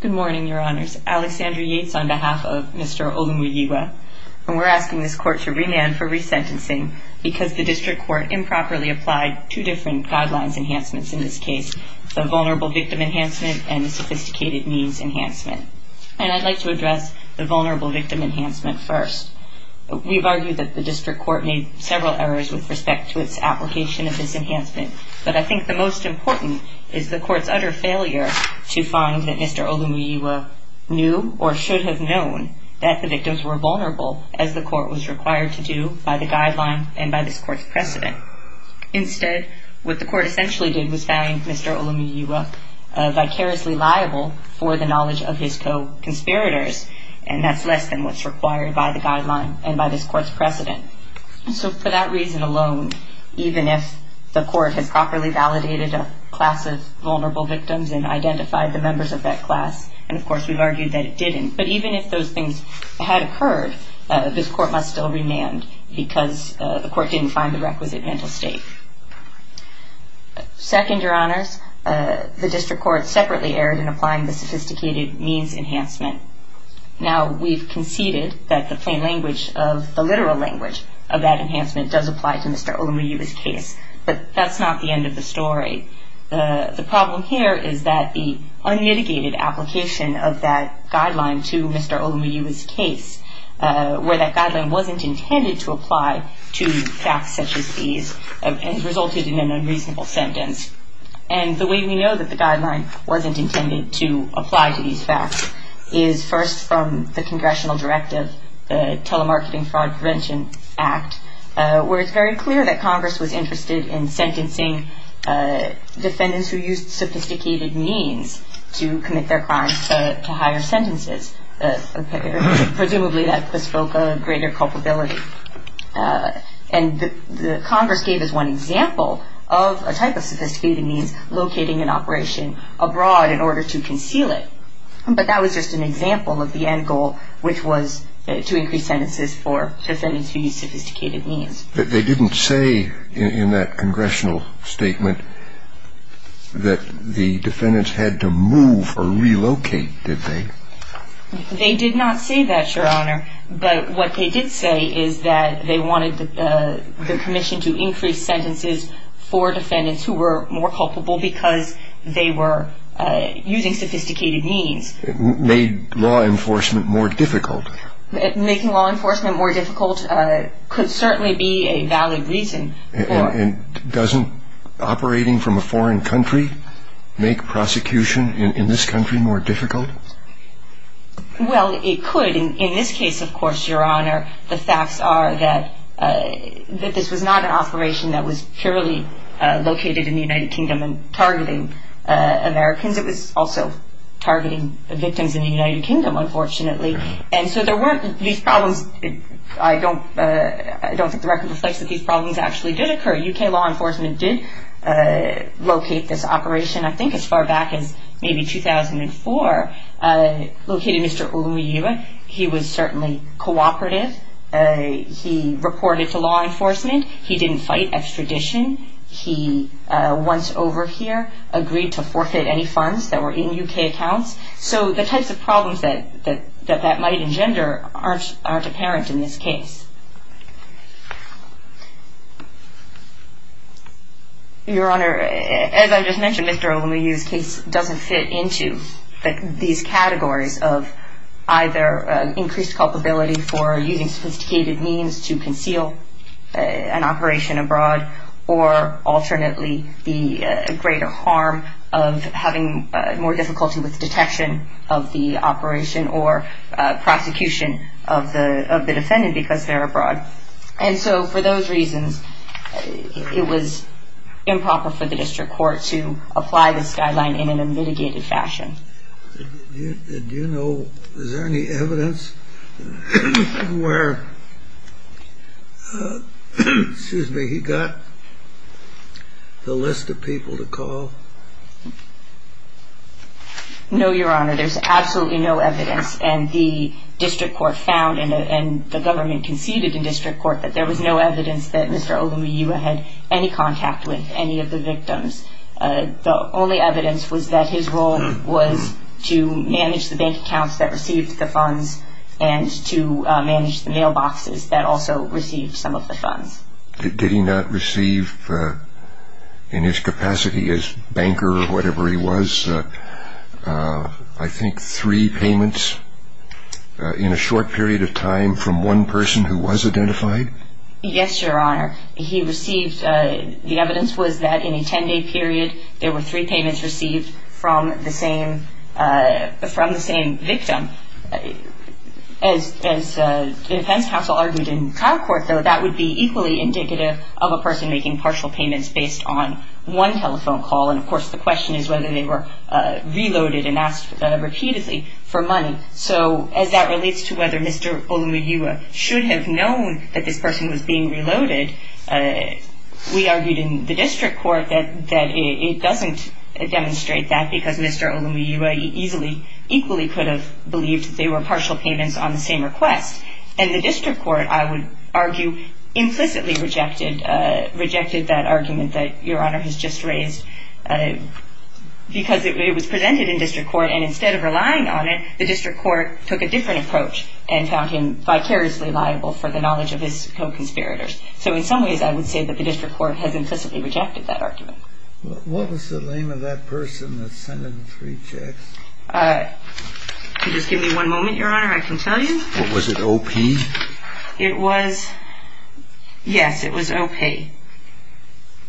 Good morning, your honors. Alexandra Yates on behalf of Mr. Olumuyiwa, and we're asking this court to remand for resentencing because the district court improperly applied two different guidelines enhancements in this case, the vulnerable victim enhancement and the sophisticated means enhancement. And I'd like to address the vulnerable victim enhancement first. We've argued that the district court made several errors with respect to its application of this enhancement, but I think the most important is the court's utter failure to find that Mr. Olumuyiwa knew or should have known that the victims were vulnerable as the court was required to do by the guideline and by this court's precedent. Instead, what the court essentially did was find Mr. Olumuyiwa vicariously liable for the knowledge of his co-conspirators, and that's less than what's required by the guideline and by this court's precedent. So for that reason alone, even if the court has properly validated a class of vulnerable victims and identified the members of that class, and of course we've argued that it didn't, but even if those things had occurred, this court must still remand because the court didn't find the requisite mental state. Second, Your Honors, the district court separately erred in applying the sophisticated means enhancement. Now, we've conceded that the plain language of the literal language of that enhancement does apply to Mr. Olumuyiwa's case, but that's not the end of the story. The problem here is that the unmitigated application of that guideline to Mr. Olumuyiwa's case, where that guideline wasn't intended to apply to facts such as these, has resulted in an unreasonable sentence. And the way we know that the guideline wasn't intended to apply to these facts is first from the Congressional Directive, the Telemarketing Fraud Prevention Act, where it's very clear that Congress was interested in sentencing defendants who used sophisticated means to commit their crimes to higher sentences, presumably that bespoke a greater culpability. And Congress gave us one example of a type of sophisticated means locating an operation abroad in order to conceal it, but that was just an example of the end goal, which was to increase sentences for defendants who used sophisticated means. But they didn't say in that Congressional statement that the defendants had to move or relocate, did they? They did not say that, Your Honor, but what they did say is that they wanted the commission to increase sentences for defendants who were more culpable because they were using sophisticated means. It made law enforcement more difficult. Making law enforcement more difficult could certainly be a valid reason for it. And doesn't operating from a foreign country make prosecution in this country more difficult? Well, it could. In this case, of course, Your Honor, the facts are that this was not an operation that was purely located in the United Kingdom and targeting Americans. It was also targeting victims in the United Kingdom, unfortunately. And so there weren't these problems. I don't think the record reflects that these problems actually did occur. U.K. law enforcement did locate this operation, I think, as far back as maybe 2004. Located Mr. Oluyue. He was certainly cooperative. He reported to law enforcement. He didn't fight extradition. He, once over here, agreed to forfeit any funds that were in U.K. accounts. So the types of problems that that might engender aren't apparent in this case. Your Honor, as I just mentioned, Mr. Oluyue's case doesn't fit into these categories of either increased culpability for using sophisticated means to conceal an operation abroad or alternately the greater harm of having more difficulty with detection of the operation or prosecution of the defendant because they're abroad. And so for those reasons, it was improper for the district court to apply this guideline in a mitigated fashion. Do you know, is there any evidence where, excuse me, he got the list of people to call? No, Your Honor, there's absolutely no evidence. And the district court found and the government conceded in district court that there was no evidence that Mr. Oluyue had any contact with any of the victims. The only evidence was that his role was to manage the bank accounts that received the funds and to manage the mailboxes that also received some of the funds. Did he not receive, in his capacity as banker or whatever he was, I think three payments in a short period of time from one person who was identified? Yes, Your Honor. He received, the evidence was that in a 10-day period, there were three payments received from the same victim. As defense counsel argued in trial court, though, that would be equally indicative of a person making partial payments based on one telephone call. And, of course, the question is whether they were reloaded and asked repeatedly for money. So as that relates to whether Mr. Oluyue should have known that this person was being reloaded, we argued in the district court that it doesn't demonstrate that because Mr. Oluyue easily, equally could have believed they were partial payments on the same request. And the district court, I would argue, implicitly rejected that argument that Your Honor has just raised. Because it was presented in district court and instead of relying on it, the district court took a different approach and found him vicariously liable for the knowledge of his co-conspirators. So in some ways, I would say that the district court has implicitly rejected that argument. What was the name of that person that sent in the three checks? If you just give me one moment, Your Honor, I can tell you. Was it O.P.? It was, yes, it was O.P.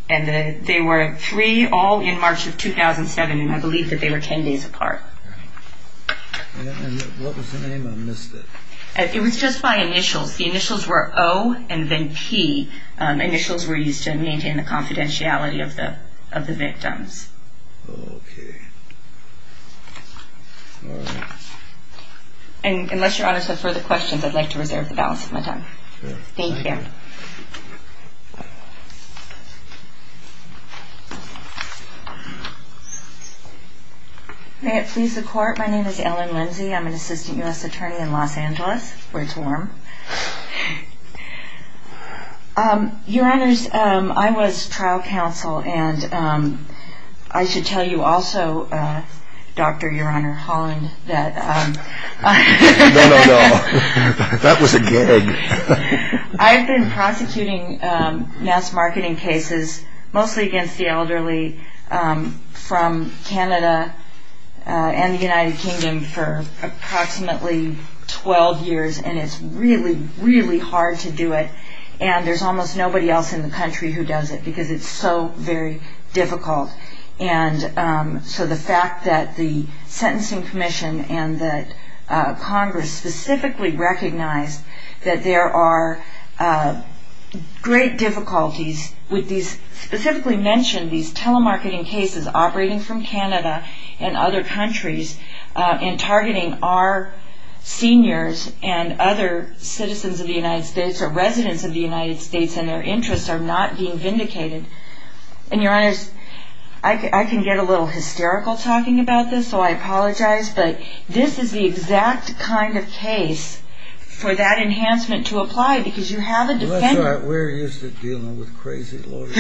And they were three all in March of 2007, and I believe that they were 10 days apart. And what was the name? I missed it. It was just by initials. The initials were O and then P. Initials were used to maintain the confidentiality of the victims. Okay. And unless Your Honor has further questions, I'd like to reserve the balance of my time. Thank you. Thank you. May it please the Court, my name is Ellen Lindsey. I'm an assistant U.S. attorney in Los Angeles, where it's warm. Your Honors, I was trial counsel, and I should tell you also, Dr. Your Honor Holland, that... No, no, no. That was a gag. I've been prosecuting mass marketing cases, mostly against the elderly, from Canada and the United Kingdom for approximately 12 years, and it's really, really hard to do it. And there's almost nobody else in the country who does it because it's so very difficult. And so the fact that the Sentencing Commission and that Congress specifically recognized that there are great difficulties with these... Specifically mentioned these telemarketing cases operating from Canada and other countries and targeting our seniors and other citizens of the United States or residents of the United States and their interests are not being vindicated. And Your Honors, I can get a little hysterical talking about this, so I apologize, but this is the exact kind of case for that enhancement to apply because you have a defendant... That's right. We're used to dealing with crazy lawyers.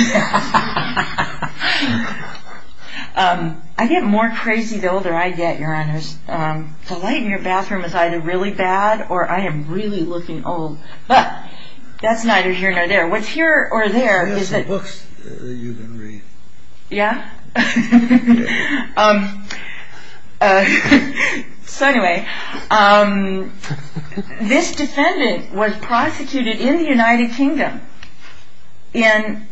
I get more crazy the older I get, Your Honors. The light in your bathroom is either really bad or I am really looking old. But that's neither here nor there. What's here or there is that... There's some books that you can read. Yeah? Yeah. So anyway, this defendant was prosecuted in the United Kingdom.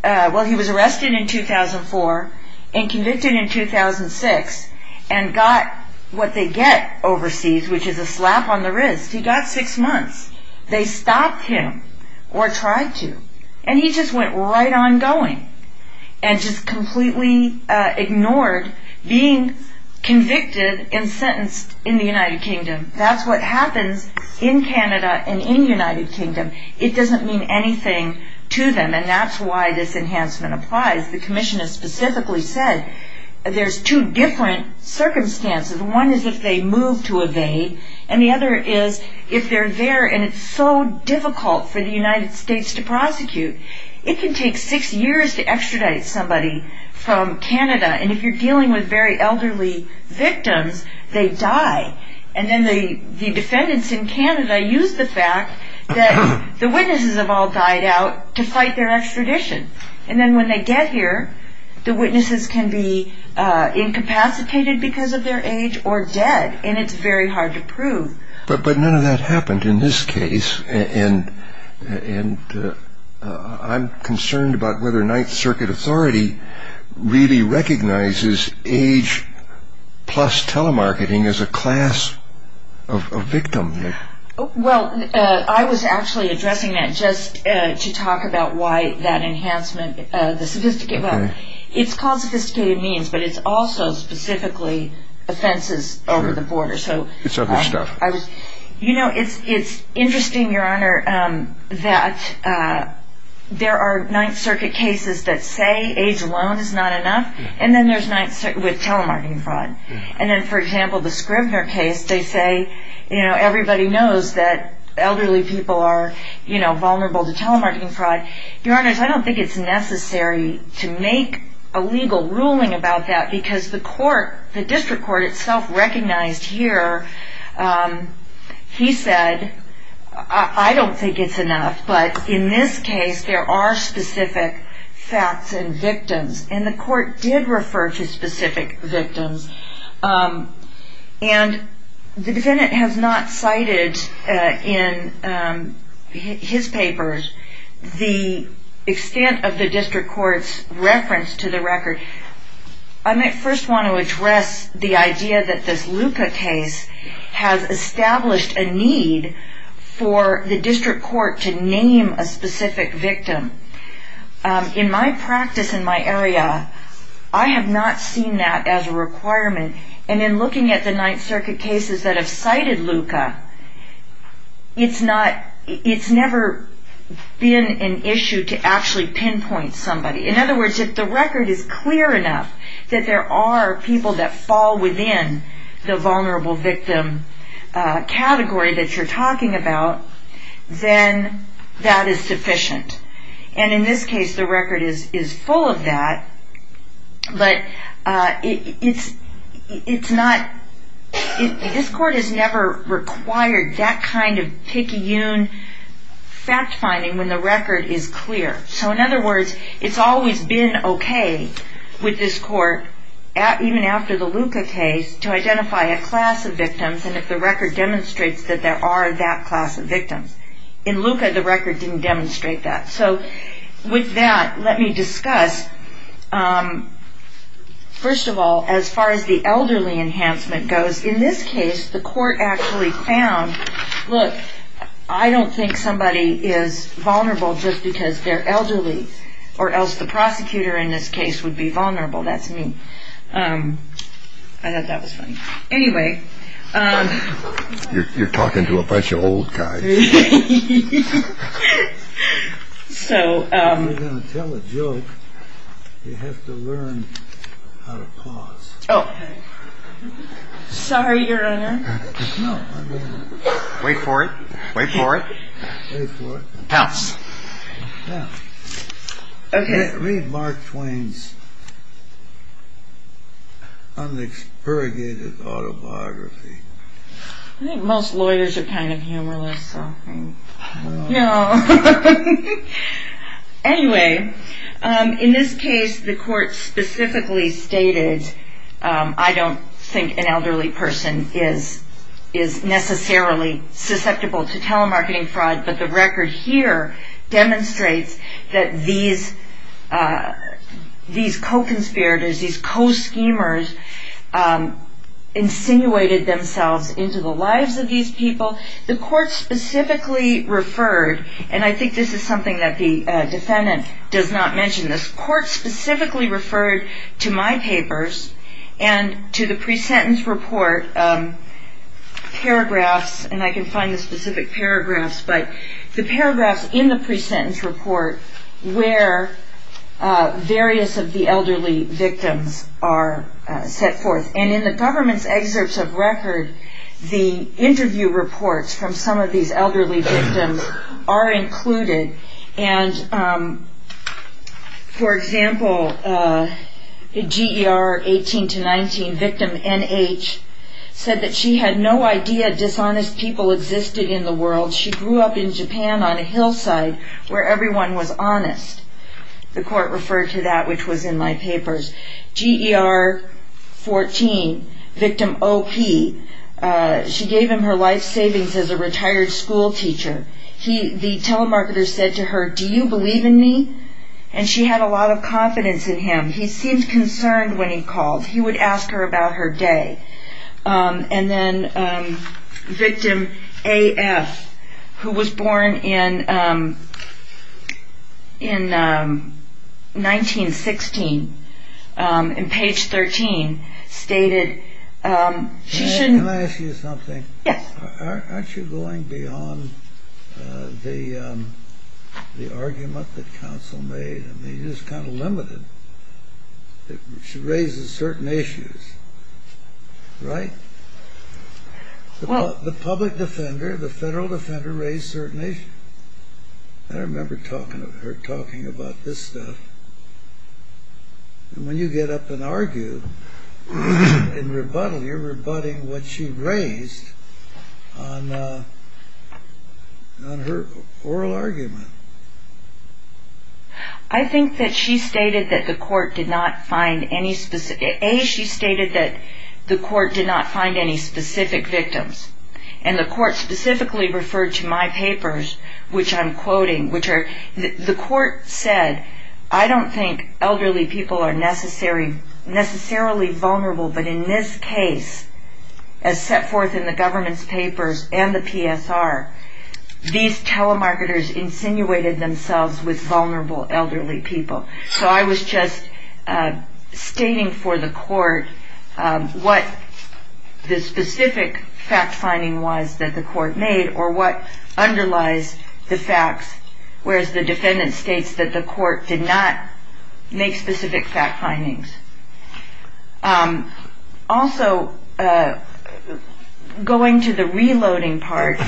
Well, he was arrested in 2004 and convicted in 2006 and got what they get overseas, which is a slap on the wrist. He got six months. They stopped him or tried to, and he just went right on going and just completely ignored being convicted and sentenced in the United Kingdom. That's what happens in Canada and in the United Kingdom. It doesn't mean anything to them, and that's why this enhancement applies. The Commissioner specifically said there's two different circumstances. One is if they move to evade, and the other is if they're there and it's so difficult for the United States to prosecute. It can take six years to extradite somebody from Canada, and if you're dealing with very elderly victims, they die. And then the defendants in Canada use the fact that the witnesses have all died out to fight their extradition. And then when they get here, the witnesses can be incapacitated because of their age or dead, and it's very hard to prove. But none of that happened in this case, and I'm concerned about whether Ninth Circuit authority really recognizes age plus telemarketing as a class of victim. Well, I was actually addressing that just to talk about why that enhancement, the sophisticated, well, it's called sophisticated means, but it's also specifically offenses over the border. It's other stuff. You know, it's interesting, Your Honor, that there are Ninth Circuit cases that say age alone is not enough, and then there's Ninth Circuit with telemarketing fraud. And then, for example, the Scribner case, they say everybody knows that elderly people are vulnerable to telemarketing fraud. Your Honors, I don't think it's necessary to make a legal ruling about that because the court, the district court itself recognized here. He said, I don't think it's enough, but in this case there are specific facts and victims, and the court did refer to specific victims. And the defendant has not cited in his papers the extent of the district court's reference to the record. I might first want to address the idea that this Luca case has established a need for the district court to name a specific victim. In my practice in my area, I have not seen that as a requirement, and in looking at the Ninth Circuit cases that have cited Luca, it's never been an issue to actually pinpoint somebody. In other words, if the record is clear enough that there are people that fall within the vulnerable victim category that you're talking about, then that is sufficient. And in this case, the record is full of that, but it's not, this court has never required that kind of picayune fact-finding when the record is clear. So in other words, it's always been okay with this court, even after the Luca case, to identify a class of victims and if the record demonstrates that there are that class of victims. In Luca, the record didn't demonstrate that. So with that, let me discuss, first of all, as far as the elderly enhancement goes. In this case, the court actually found, look, I don't think somebody is vulnerable just because they're elderly or else the prosecutor in this case would be vulnerable. That's me. I thought that was funny. Anyway... You're talking to a bunch of old guys. So... If you're going to tell a joke, you have to learn how to pause. Oh. Sorry, Your Honor. Wait for it. Wait for it. Wait for it. Pounce. Pounce. Read Mark Twain's unexpurgated autobiography. I think most lawyers are kind of humorless. No. Anyway, in this case, the court specifically stated, I don't think an elderly person is necessarily susceptible to telemarketing fraud, but the record here demonstrates that these co-conspirators, these co-schemers insinuated themselves into the lives of these people. The court specifically referred, and I think this is something that the defendant does not mention this, but the court specifically referred to my papers and to the pre-sentence report paragraphs, and I can find the specific paragraphs, but the paragraphs in the pre-sentence report where various of the elderly victims are set forth. And in the government's excerpts of record, the interview reports from some of these elderly victims are included. And, for example, GER 18 to 19, victim NH, said that she had no idea dishonest people existed in the world. She grew up in Japan on a hillside where everyone was honest. The court referred to that, which was in my papers. GER 14, victim OP, she gave him her life savings as a retired school teacher. The telemarketer said to her, Do you believe in me? And she had a lot of confidence in him. He seemed concerned when he called. He would ask her about her day. And then victim AF, who was born in 1916, in page 13, stated, Can I ask you something? Yes. Aren't you going beyond the argument that counsel made? I mean, you're just kind of limited. She raises certain issues, right? The public defender, the federal defender, raised certain issues. I remember her talking about this stuff. And when you get up and argue, and rebuttal, you're rebutting what she raised on her oral argument. I think that she stated that the court did not find any specific, A, she stated that the court did not find any specific victims. And the court specifically referred to my papers, which I'm quoting, which are, the court said, I don't think elderly people are necessarily vulnerable, but in this case, as set forth in the government's papers and the PSR, these telemarketers insinuated themselves with vulnerable elderly people. So I was just stating for the court what the specific fact-finding was that the court made or what underlies the facts, whereas the defendant states that the court did not make specific fact-findings. Also, going to the reloading part,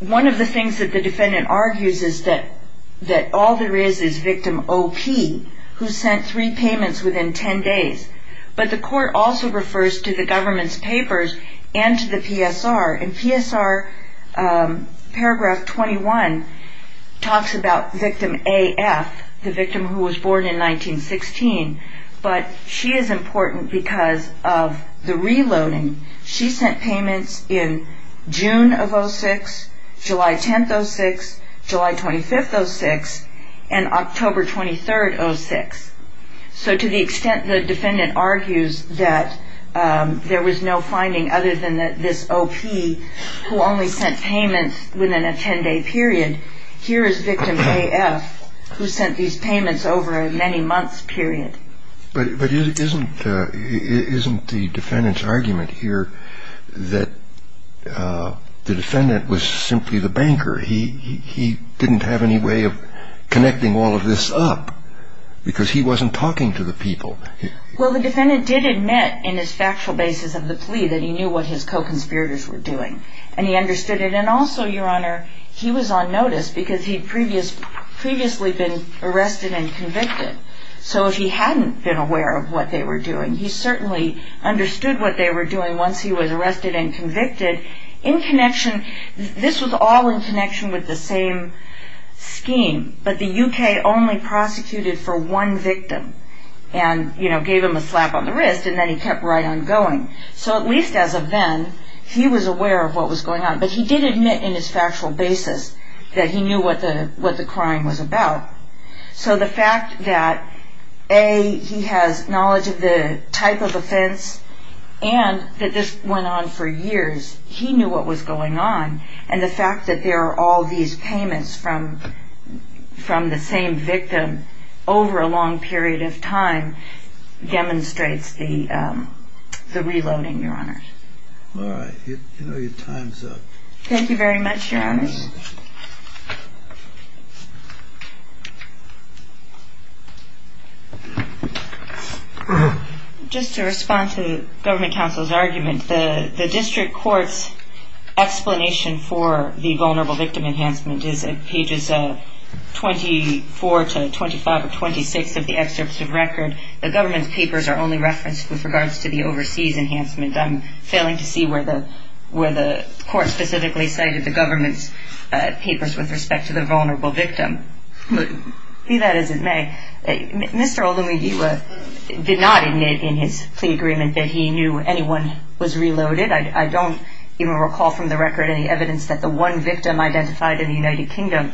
one of the things that the defendant argues is that all there is is victim O.P., who sent three payments within 10 days. But the court also refers to the government's papers and to the PSR. And PSR paragraph 21 talks about victim A.F., the victim who was born in 1916, but she is important because of the reloading. She sent payments in June of 06, July 10th, 06, July 25th, 06, and October 23rd, 06. So to the extent the defendant argues that there was no finding other than that this O.P. who only sent payments within a 10-day period, here is victim A.F. who sent these payments over a many months period. But isn't the defendant's argument here that the defendant was simply the banker? He didn't have any way of connecting all of this up because he wasn't talking to the people. Well, the defendant did admit in his factual basis of the plea that he knew what his co-conspirators were doing, and he understood it. And also, Your Honor, he was on notice because he'd previously been arrested and convicted. So if he hadn't been aware of what they were doing, he certainly understood what they were doing once he was arrested and convicted. This was all in connection with the same scheme, but the U.K. only prosecuted for one victim and gave him a slap on the wrist, and then he kept right on going. So at least as of then, he was aware of what was going on. But he did admit in his factual basis that he knew what the crime was about. So the fact that, A, he has knowledge of the type of offense, and that this went on for years, he knew what was going on. And the fact that there are all these payments from the same victim over a long period of time demonstrates the reloading, Your Honor. All right. You know your time's up. Thank you very much, Your Honor. Just to respond to the government counsel's argument, the district court's explanation for the vulnerable victim enhancement is in pages 24 to 25 or 26 of the excerpts of record. The government's papers are only referenced with regards to the overseas enhancement. I'm failing to see where the court specifically cited the government's explanation. Mr. Olumiyiwa did not admit in his plea agreement that he knew anyone was reloaded. I don't even recall from the record any evidence that the one victim identified in the United Kingdom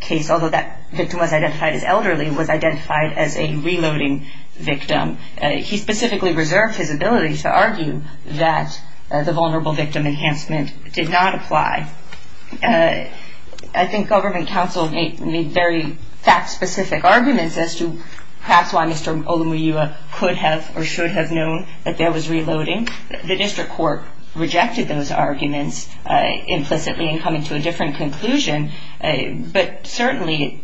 case, although that victim was identified as elderly, was identified as a reloading victim. He specifically reserved his ability to argue that the vulnerable victim enhancement did not apply. I think government counsel made very fact-specific arguments as to perhaps why Mr. Olumiyiwa could have or should have known that there was reloading. The district court rejected those arguments implicitly in coming to a different conclusion. But certainly,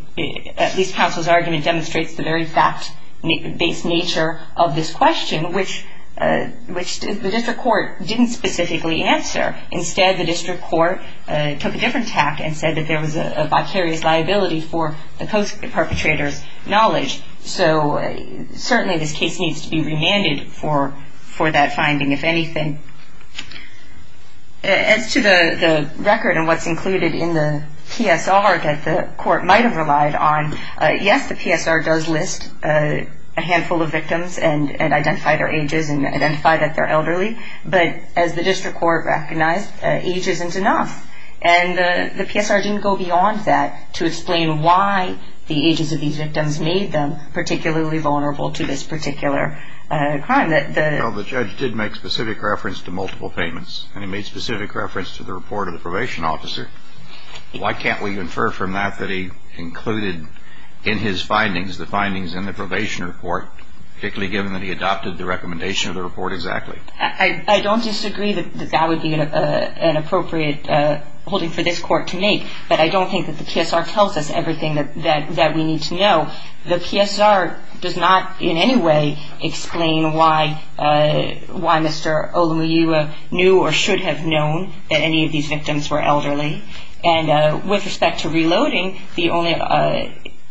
at least counsel's argument demonstrates the very fact-based nature of this question, which the district court didn't specifically answer. Instead, the district court took a different tact and said that there was a vicarious liability for the post-perpetrator's knowledge. So certainly this case needs to be remanded for that finding, if anything. As to the record and what's included in the PSR that the court might have relied on, yes, the PSR does list a handful of victims and identify their ages and identify that they're elderly. But as the district court recognized, age isn't enough. And the PSR didn't go beyond that to explain why the ages of these victims made them particularly vulnerable to this particular crime. Well, the judge did make specific reference to multiple payments, and he made specific reference to the report of the probation officer. Why can't we infer from that that he included in his findings the findings in the probation report, particularly given that he adopted the recommendation of the report exactly? I don't disagree that that would be an appropriate holding for this court to make, but I don't think that the PSR tells us everything that we need to know. The PSR does not in any way explain why Mr. Olumuyiwa knew or should have known that any of these victims were elderly. And with respect to reloading,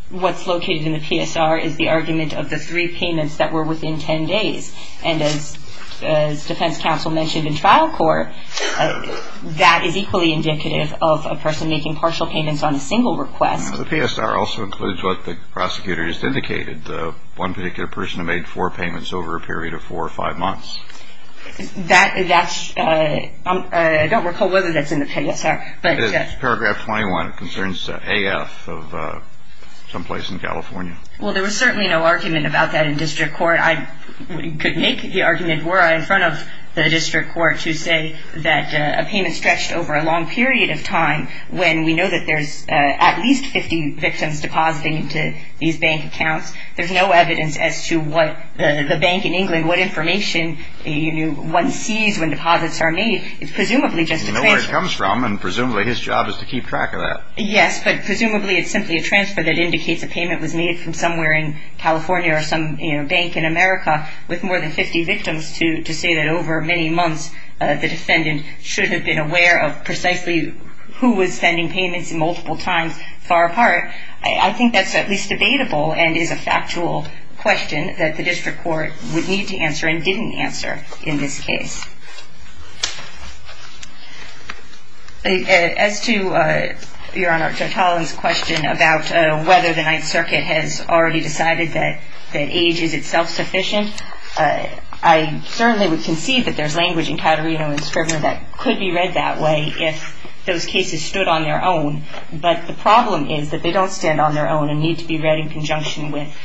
what's located in the PSR is the argument of the three payments that were within 10 days. And as defense counsel mentioned in trial court, that is equally indicative of a person making partial payments on a single request. The PSR also includes what the prosecutor just indicated, the one particular person who made four payments over a period of four or five months. I don't recall whether that's in the PSR. It's paragraph 21. It concerns AF of someplace in California. Well, there was certainly no argument about that in district court. I could make the argument were I in front of the district court to say that a payment stretched over a long period of time when we know that there's at least 50 victims depositing into these bank accounts. There's no evidence as to what the bank in England, what information one sees when deposits are made. It's presumably just a transfer. You know where it comes from, and presumably his job is to keep track of that. Yes, but presumably it's simply a transfer that indicates a payment was made from somewhere in California or some bank in America with more than 50 victims to say that over many months, the defendant should have been aware of precisely who was sending payments multiple times far apart. I think that's at least debatable and is a factual question that the district court would need to answer and didn't answer in this case. As to, Your Honor, Judge Holland's question about whether the Ninth Circuit has already decided that age is itself sufficient, I certainly would concede that there's language in Caterino and Scribner that could be read that way if those cases stood on their own. But the problem is that they don't stand on their own and need to be read in conjunction with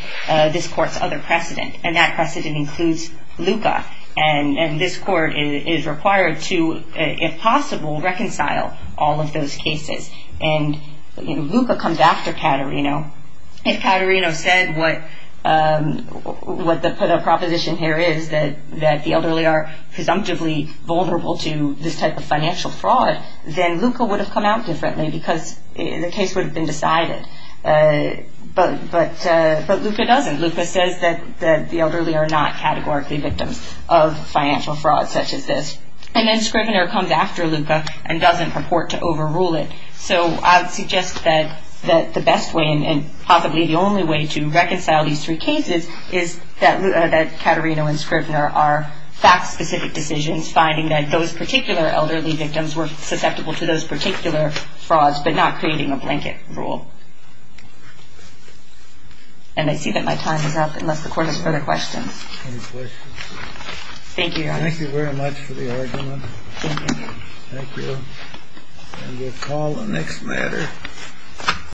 this court's other precedent, and that precedent includes Luca. And this court is required to, if possible, reconcile all of those cases. And Luca comes after Caterino. If Caterino said what the proposition here is, that the elderly are presumptively vulnerable to this type of financial fraud, then Luca would have come out differently because the case would have been decided. But Luca doesn't. Luca says that the elderly are not categorically victims of financial fraud such as this. And then Scribner comes after Luca and doesn't purport to overrule it. So I would suggest that the best way and possibly the only way to reconcile these three cases is that Caterino and Scribner are finding that those particular elderly victims were susceptible to those particular frauds but not creating a blanket rule. And I see that my time is up unless the court has further questions. Any questions? Thank you, Your Honor. Thank you very much for the argument. Thank you. Thank you. And we'll call the next matter.